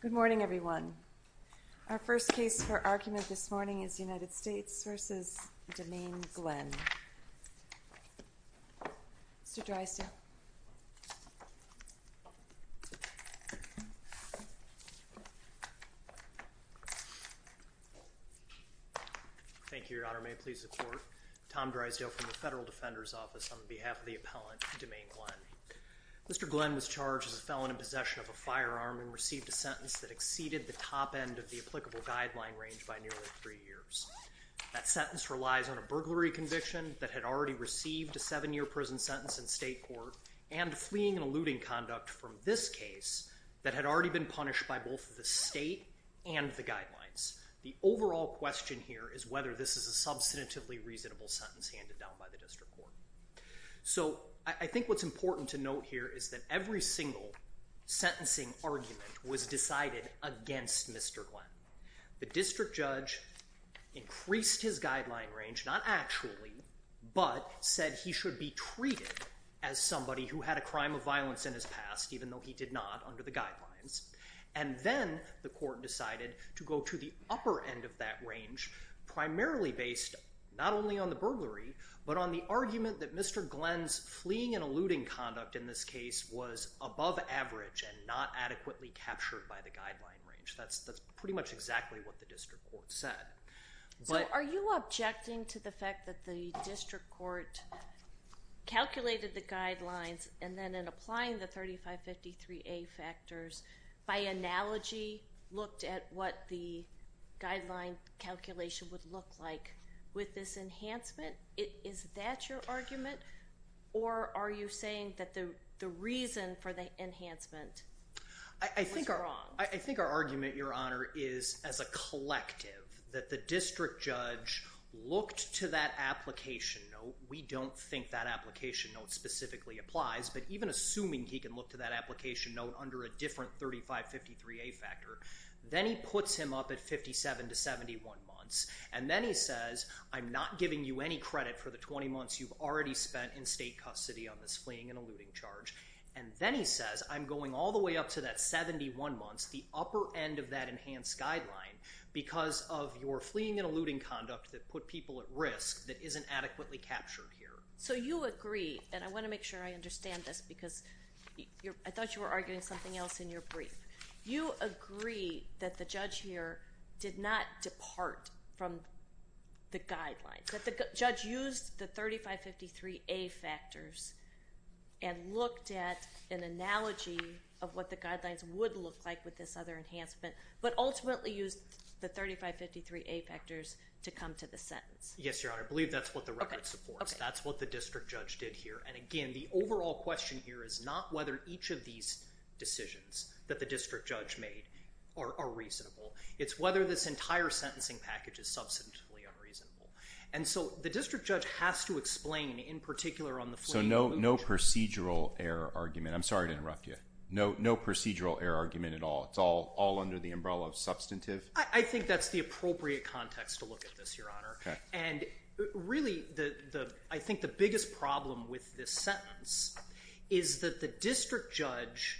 Good morning, everyone. Our first case for argument this morning is United States v. Demaine Glenn. Mr. Drysdale. Thank you, Your Honor. May it please the Court. Tom Drysdale from the Federal Defender's Office on behalf of the appellant Demaine Glenn. Mr. Glenn was charged as a felon in possession of a firearm and received a sentence that exceeded the top end of the applicable guideline range by nearly three years. That sentence relies on a burglary conviction that had already received a seven-year prison sentence in state court and fleeing and eluding conduct from this case that had already been punished by both the state and the guidelines. The overall question here is whether this is a substantively reasonable sentence handed down by the district court. So I think what's important to note here is that every single sentencing argument was decided against Mr. Glenn. The district judge increased his guideline range, not actually, but said he should be treated as somebody who had a crime of violence in his past even though he did not under the guidelines. And then the court decided to go to the upper end of that range, primarily based not only on the fact that the conduct in this case was above average and not adequately captured by the guideline range. That's pretty much exactly what the district court said. So are you objecting to the fact that the district court calculated the guidelines and then in applying the 3553A factors by analogy looked at what the guideline calculation would look like with this enhancement? Is that your opinion? Or do you think that the reason for the enhancement was wrong? I think our argument, Your Honor, is as a collective that the district judge looked to that application note. We don't think that application note specifically applies, but even assuming he can look to that application note under a different 3553A factor, then he puts him up at 57 to 71 months and then he says I'm not giving you any credit for the 20 months you've already spent in state custody on this fleeing and eluding charge. And then he says I'm going all the way up to that 71 months, the upper end of that enhanced guideline, because of your fleeing and eluding conduct that put people at risk that isn't adequately captured here. So you agree, and I want to make sure I understand this because I thought you were arguing something else in your brief. You agree that the judge here did not depart from the 3553A factors and looked at an analogy of what the guidelines would look like with this other enhancement, but ultimately used the 3553A factors to come to the sentence. Yes, Your Honor. I believe that's what the record supports. That's what the district judge did here, and again the overall question here is not whether each of these decisions that the district judge made are reasonable. It's whether this entire sentencing package is substantively unreasonable. And so the district judge has to explain in particular on the fleeing and eluding. So no procedural error argument. I'm sorry to interrupt you. No procedural error argument at all. It's all under the umbrella of substantive? I think that's the appropriate context to look at this, Your Honor. And really, I think the biggest problem with this sentence is that the district judge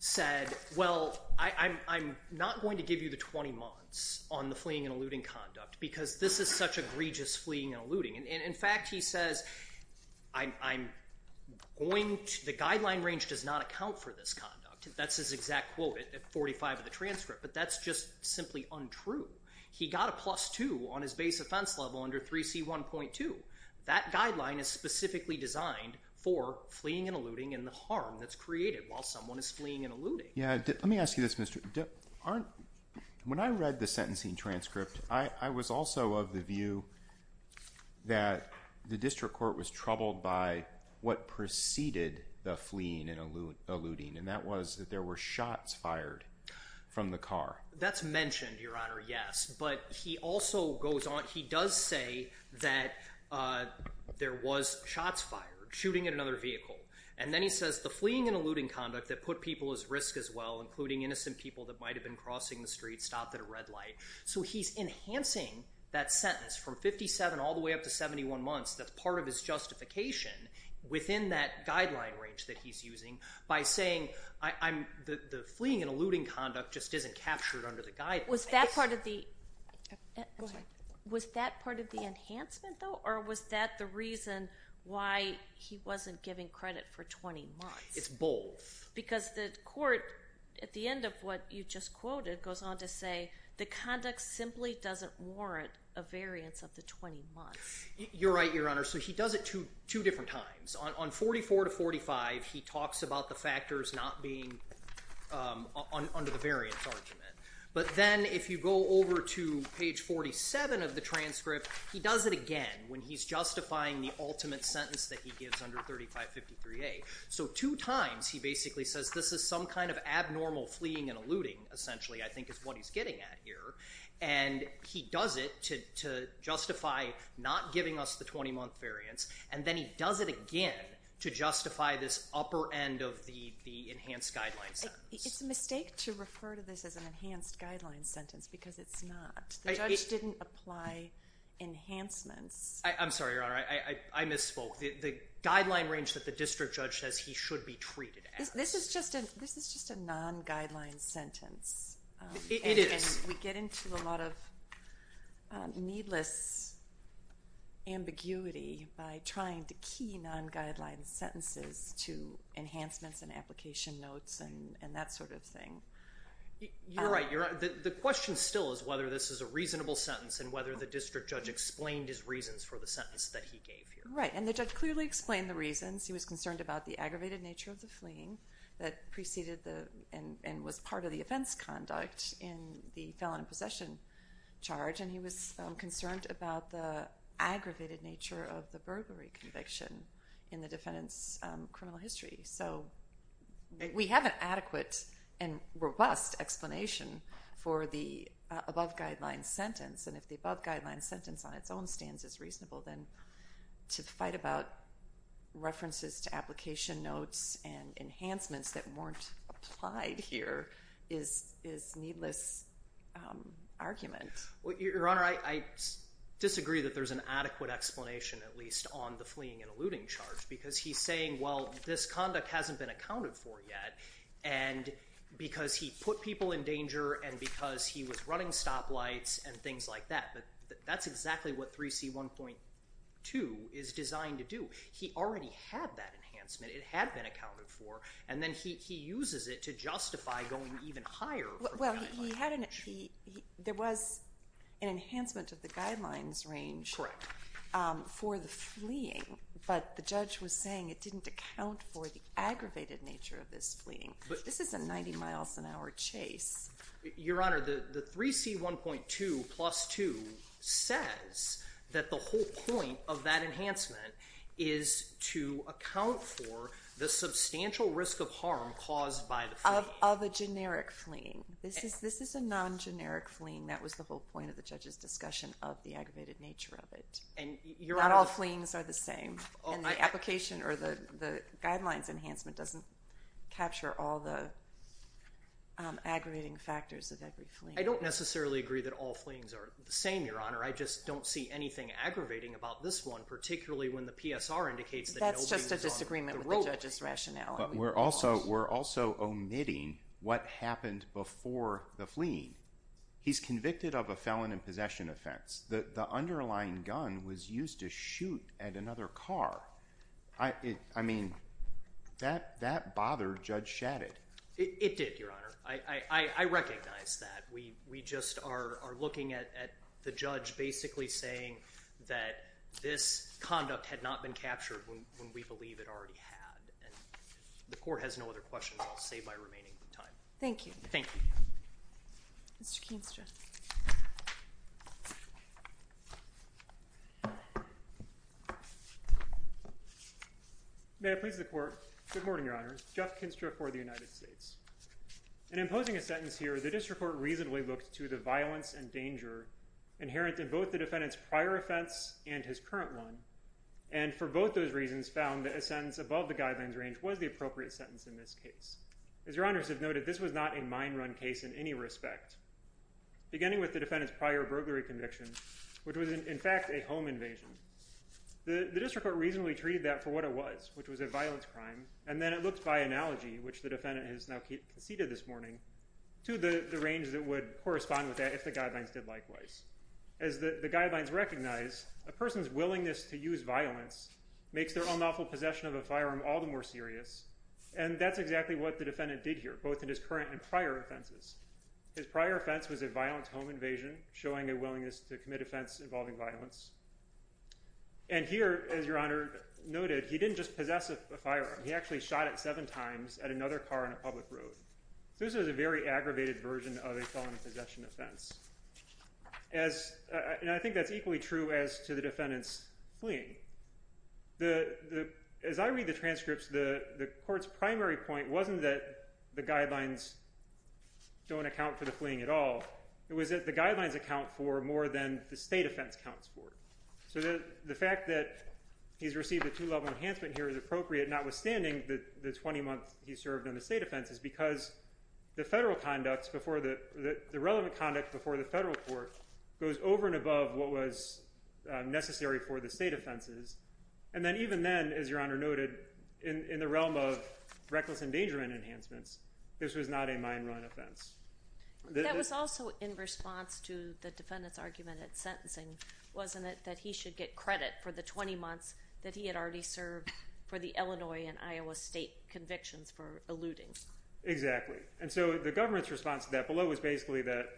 said, well I'm not going to give you the 20 months on the fleeing and eluding conduct because this is such egregious fleeing and eluding. And in fact, he says, I'm going to, the guideline range does not account for this conduct. That's his exact quote at 45 of the transcript, but that's just simply untrue. He got a plus two on his base offense level under 3C1.2. That guideline is specifically designed for fleeing and eluding and the harm that's created while someone is fleeing and eluding. Yeah, let me ask you this, Mr. Arndt. When I read the sentencing transcript, I was also of the view that the district court was troubled by what preceded the fleeing and eluding, and that was that there were shots fired from the car. That's mentioned, Your Honor, yes. But he also goes on, he does say that there was shots fired, shooting at another vehicle. And then he says the fleeing and eluding conduct that put people at risk as well, including innocent people that might have been crossing the street, stopped at a red light. So he's enhancing that sentence from 57 all the way up to 71 months. That's part of his justification within that guideline range that he's using by saying the fleeing and eluding conduct just isn't captured under the guideline. Was that part of the, was that part of the enhancement though? Or was that the reason why he wasn't giving credit for 20 months? It's both. Because the court, at the end of what you just quoted, goes on to say the conduct simply doesn't warrant a variance of the 20 months. You're right, Your Honor. So he does it two different times. On 44 to 45, he talks about the factors not being under the variance argument. But then if you go over to page 47 of the transcript, he does it again when he's justifying the ultimate sentence that he basically says this is some kind of abnormal fleeing and eluding, essentially, I think is what he's getting at here. And he does it to justify not giving us the 20-month variance. And then he does it again to justify this upper end of the enhanced guideline sentence. It's a mistake to refer to this as an enhanced guideline sentence because it's not. The judge didn't apply enhancements. I'm sorry, Your Honor, I misspoke. The guideline range that the district judge says he should be treated as. This is just a non-guideline sentence. It is. And we get into a lot of needless ambiguity by trying to key non-guideline sentences to enhancements and application notes and that sort of thing. You're right, Your Honor. The question still is whether this is a reasonable sentence and whether the district judge explained his reasons for the sentence that he gave here. Right, and the judge clearly explained the reasons. He was concerned about the aggravated nature of the fleeing that preceded and was part of the offense conduct in the felon in possession charge. And he was concerned about the aggravated nature of the burglary conviction in the defendant's criminal history. So we have an adequate and robust explanation for the above guideline sentence. And if the above guideline sentence on its own stands as reasonable, then to fight about references to application notes and enhancements that weren't applied here is needless argument. Well, Your Honor, I disagree that there's an adequate explanation, at least on the fleeing and eluding charge, because he's saying, well, this conduct hasn't been accounted for yet. And because he put people in danger and because he was running stoplights and things like that. But that's exactly what 3C1.2 is designed to do. He already had that enhancement. It had been accounted for. And then he uses it to justify going even higher. Well, he hadn't. There was an enhancement of the guidelines range for the fleeing, but the judge was saying it didn't account for the aggravated nature of this fleeing. This is a 90 miles an hour chase. Your Honor, the 3C1.2 says that the whole point of that enhancement is to account for the substantial risk of harm caused by the fleeing. Of a generic fleeing. This is a non-generic fleeing. That was the whole point of the judge's discussion of the aggravated nature of it. And not all fleeings are the same. And the application or the guidelines enhancement doesn't capture all the same, Your Honor. I just don't see anything aggravating about this one, particularly when the PSR indicates that that's just a disagreement with the judge's rationale. But we're also omitting what happened before the fleeing. He's convicted of a felon in possession offense. The underlying gun was used to shoot at another car. I mean, that bothered Judge Shadid. It did, Your Honor. I recognize that. We just are looking at the judge basically saying that this conduct had not been captured when we believe it already had. And the court has no other questions. I'll save my remaining time. Thank you. Thank you, Mr. Keenstra. May it please the court. Good morning, Your Honor. Jeff Keenstra for the jury. In imposing a sentence here, the district court reasonably looked to the violence and danger inherent in both the defendant's prior offense and his current one. And for both those reasons found that a sentence above the guidelines range was the appropriate sentence in this case. As Your Honors have noted, this was not a mine run case in any respect, beginning with the defendant's prior burglary conviction, which was in fact a home invasion. The district court reasonably treated that for what it was, which was a violence crime. And then it looked by analogy, which the defendant has now conceded this morning, to the range that would correspond with that if the guidelines did likewise. As the guidelines recognize, a person's willingness to use violence makes their unlawful possession of a firearm all the more serious. And that's exactly what the defendant did here, both in his current and prior offenses. His prior offense was a violent home invasion, showing a willingness to commit offense involving violence. And here, as Your Honor noted, he didn't just possess a firearm. He actually shot it seven times at another car on a public road. So this was a very aggravated version of a felony possession offense. And I think that's equally true as to the defendant's fleeing. As I read the transcripts, the court's primary point wasn't that the guidelines don't account for the fleeing at all. It was that the guidelines account for more than the state offense counts for. So the fact that he's received a two-level enhancement here is appropriate, notwithstanding the 20 months he served on the state offenses, because the federal conducts before the relevant conduct before the federal court goes over and above what was necessary for the state offenses. And then even then, as Your Honor noted, in the realm of reckless endangerment enhancements, this was not a mine run offense. That was also in response to the defendant's argument at sentencing, wasn't it, that he should get credit for the 20 months that he had already served for the Illinois and Iowa state convictions for eluding? Exactly. And so the government's response to that below was basically that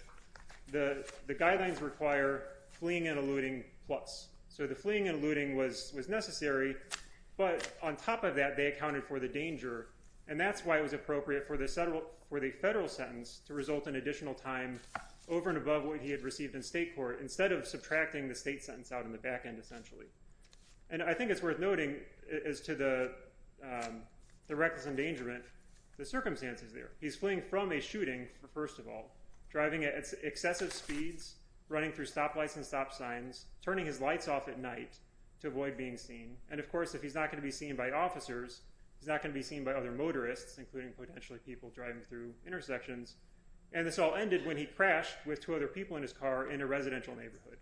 the guidelines require fleeing and eluding plus. So the fleeing and eluding was necessary, but on top of that, they accounted for the danger. And that's why it was appropriate for the federal sentence to result in additional time over and above what he had received in state court, instead of subtracting the state sentence out in the back end, essentially. And I think it's worth noting as to the the reckless endangerment, the circumstances there. He's fleeing from a shooting, first of all, driving at excessive speeds, running through stoplights and stop signs, turning his lights off at night to avoid being seen, and of course if he's not going to be seen by officers, he's not going to be seen by other motorists, including potentially people driving through intersections. And this all ended when he crashed with two other people in his car in a residential neighborhood.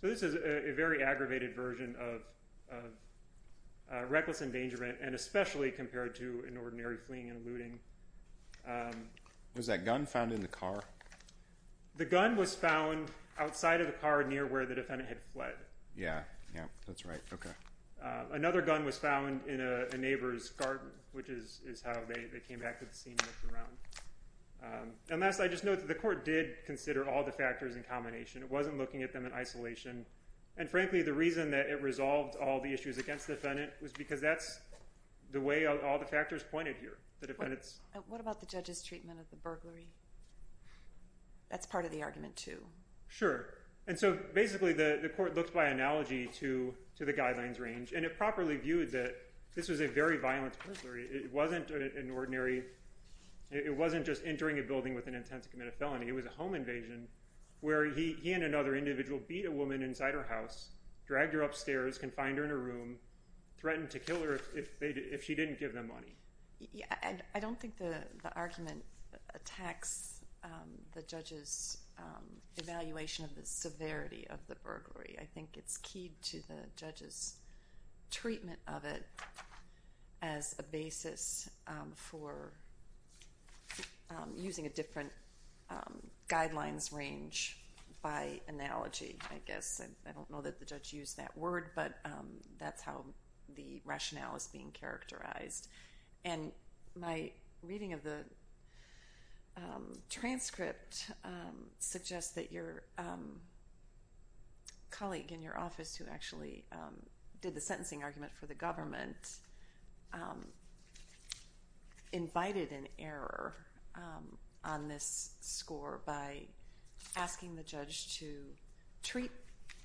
So this is a very aggravated version of reckless endangerment, and especially compared to an ordinary fleeing and eluding. Was that gun found in the car? The gun was found outside of the car near where the defendant had fled. Yeah, yeah, that's right, okay. Another gun was found in a neighbor's garden, which is how they came back to the scene and looked around. And last, I just note that the court did consider all the factors in combination. It wasn't looking at them in isolation, and frankly the reason that it resolved all the issues against the defendant was because that's the way all the factors pointed here. What about the judge's treatment of the burglary? That's part of the argument, too. Sure, and so basically the the court looks by analogy to to the guidelines range, and it properly viewed that this was a very It wasn't just entering a building with an intent to commit a felony. It was a home invasion where he and another individual beat a woman inside her house, dragged her upstairs, confined her in a room, threatened to kill her if she didn't give them money. Yeah, I don't think the argument attacks the judge's evaluation of the severity of the burglary. I think it's keyed to the judge's treatment of it as a basis for using a different guidelines range by analogy, I guess. I don't know that the judge used that word, but that's how the rationale is being characterized. And my reading of the transcript suggests that your colleague in your office who actually did the sentencing argument for the government invited an error on this score by asking the judge to treat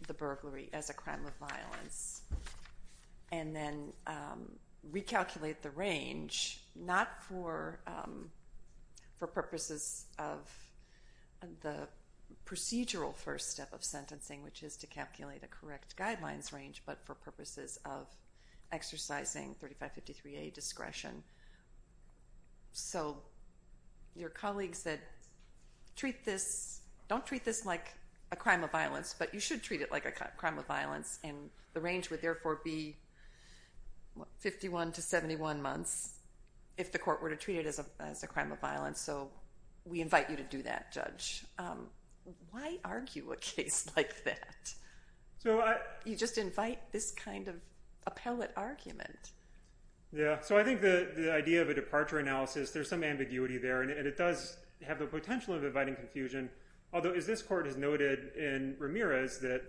the burglary as a crime of violence and then recalculate the range, not for purposes of the correct guidelines range, but for purposes of exercising 3553A discretion. So your colleagues said, don't treat this like a crime of violence, but you should treat it like a crime of violence, and the range would therefore be 51 to 71 months if the court were to treat it as a crime of violence. So we invite you to do that, Judge. Why argue a case like that? You just invite this kind of appellate argument. Yeah, so I think the idea of a departure analysis, there's some ambiguity there, and it does have the potential of inviting confusion. Although, as this court has noted in Ramirez, that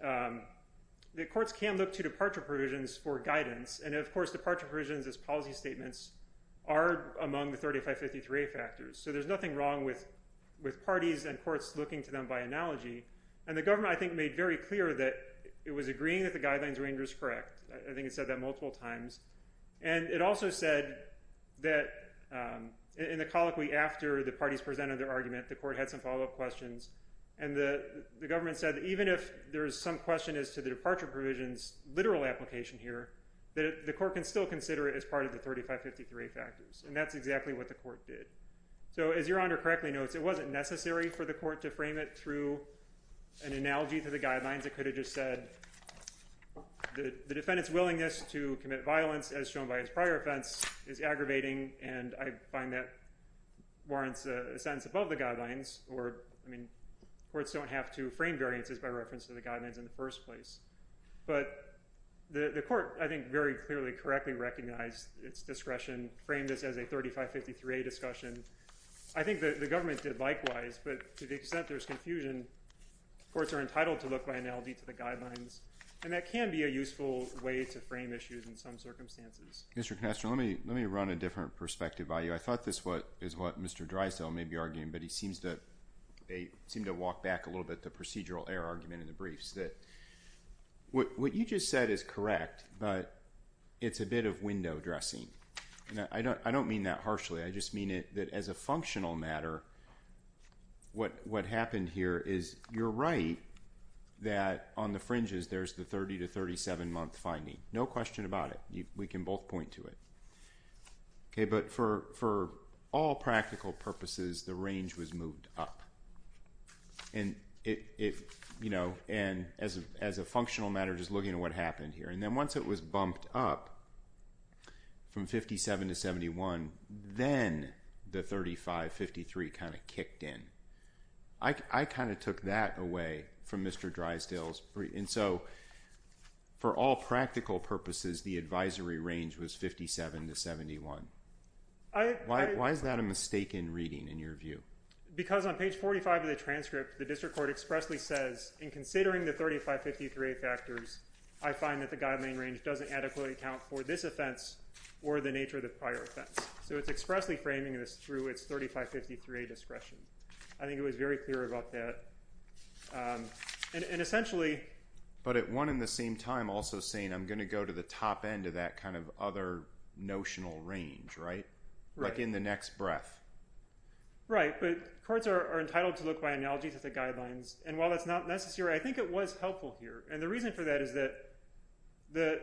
the courts can look to departure provisions for guidance. And of course, departure provisions as policy factors. So there's nothing wrong with parties and courts looking to them by analogy. And the government, I think, made very clear that it was agreeing that the guidelines range was correct. I think it said that multiple times. And it also said that in the colloquy after the parties presented their argument, the court had some follow-up questions. And the government said that even if there is some question as to the departure provisions literal application here, that the court can still consider it as part of the 3553A factors. And that's exactly what the court did. So as Your Honor correctly notes, it wasn't necessary for the court to frame it through an analogy to the guidelines. It could have just said the defendant's willingness to commit violence, as shown by his prior offense, is aggravating. And I find that warrants a sentence above the guidelines. Or, I mean, courts don't have to frame variances by reference to the guidelines in the first place. But the court, I think, very clearly correctly recognized its discretion, framed this as a 3553A discussion. I think that the government did likewise. But to the extent there's confusion, courts are entitled to look by analogy to the guidelines. And that can be a useful way to frame issues in some circumstances. Mr. Canastro, let me run a different perspective by you. I thought this is what Mr. Dreisel may be arguing, but he seems to walk back a little bit the procedural error argument in the briefs. What you just said is correct, but it's a bit of window dressing. I don't mean that harshly. I just mean that, as a functional matter, what happened here is, you're right that on the fringes there's the 30 to 37 month finding. No question about it. We can both point to it. Okay, but for all practical purposes, the range was moved up. And, you know, as a functional matter, just looking at what happened here. And then once it was bumped up from 57 to 71, then the 3553 kind of kicked in. I kind of took that away from Mr. Dreisel's brief. And so, for all practical purposes, the advisory range was 57 to 71. Why is that a mistaken reading in your view? Because on page 45 of the transcript, the district court expressly says, in considering the 3553A factors, I find that the guideline range doesn't adequately account for this offense or the nature of the prior offense. So it's expressly framing this through its 3553A discretion. I think it was very clear about that. And essentially... But at one and the same time also saying, I'm going to go to the top end of that kind of other notional range, right? Like in the next breath. Right, but courts are entitled to look by analogy to the guidelines. And while that's not necessary, I think it was helpful here. And the reason for that is that the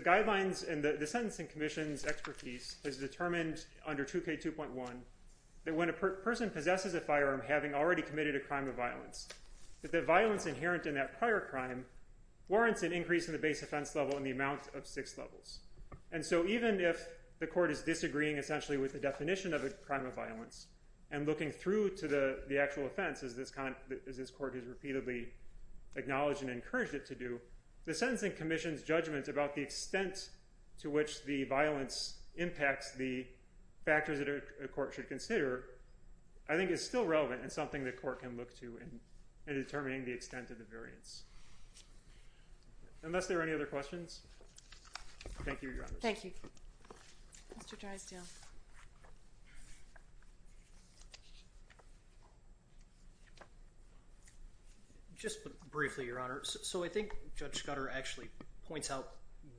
guidelines and the Sentencing Commission's expertise has determined under 2K2.1 that when a person possesses a firearm having already committed a crime of violence, that the violence inherent in that prior crime warrants an increase in the base offense level in the amount of six levels. And so even if the court is disagreeing essentially with the definition of a crime of violence and looking through to the actual offense, as this court has repeatedly acknowledged and encouraged it to do, the Sentencing Commission's judgment about the extent to which the violence impacts the factors that a court should consider, I think is still relevant and something the court can look to in determining the extent of the variance. Unless there are any other questions. Just briefly, Your Honor. So I think Judge Scudder actually points out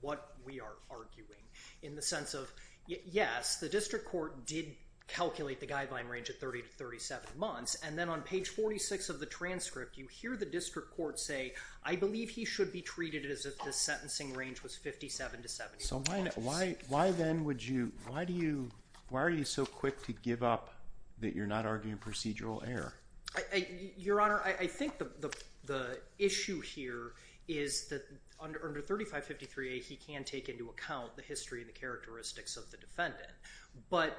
what we are arguing in the sense of, yes, the district court did calculate the guideline range at 30 to 37 months, and then on page 46 of the transcript you hear the district court say, I believe he should be treated as if the sentencing range was 57 to 70 months. So why then would you, why do you, why are you so good at arguing procedural error? Your Honor, I think the issue here is that under 3553A he can take into account the history and the characteristics of the defendant. But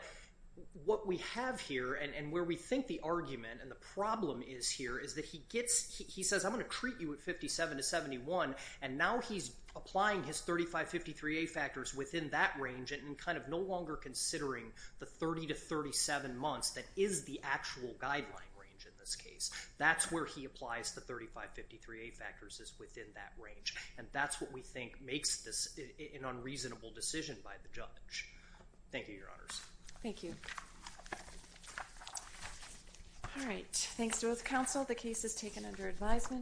what we have here, and where we think the argument and the problem is here, is that he gets, he says I'm going to treat you at 57 to 71, and now he's applying his 3553A factors within that range and kind of no longer considering the 30 to 37 months that is the actual guideline range in this case. That's where he applies the 3553A factors, is within that range. And that's what we think makes this an unreasonable decision by the judge. Thank you, Your Honors. Thank you. All right, thanks to both counsel. The case is taken under advisement.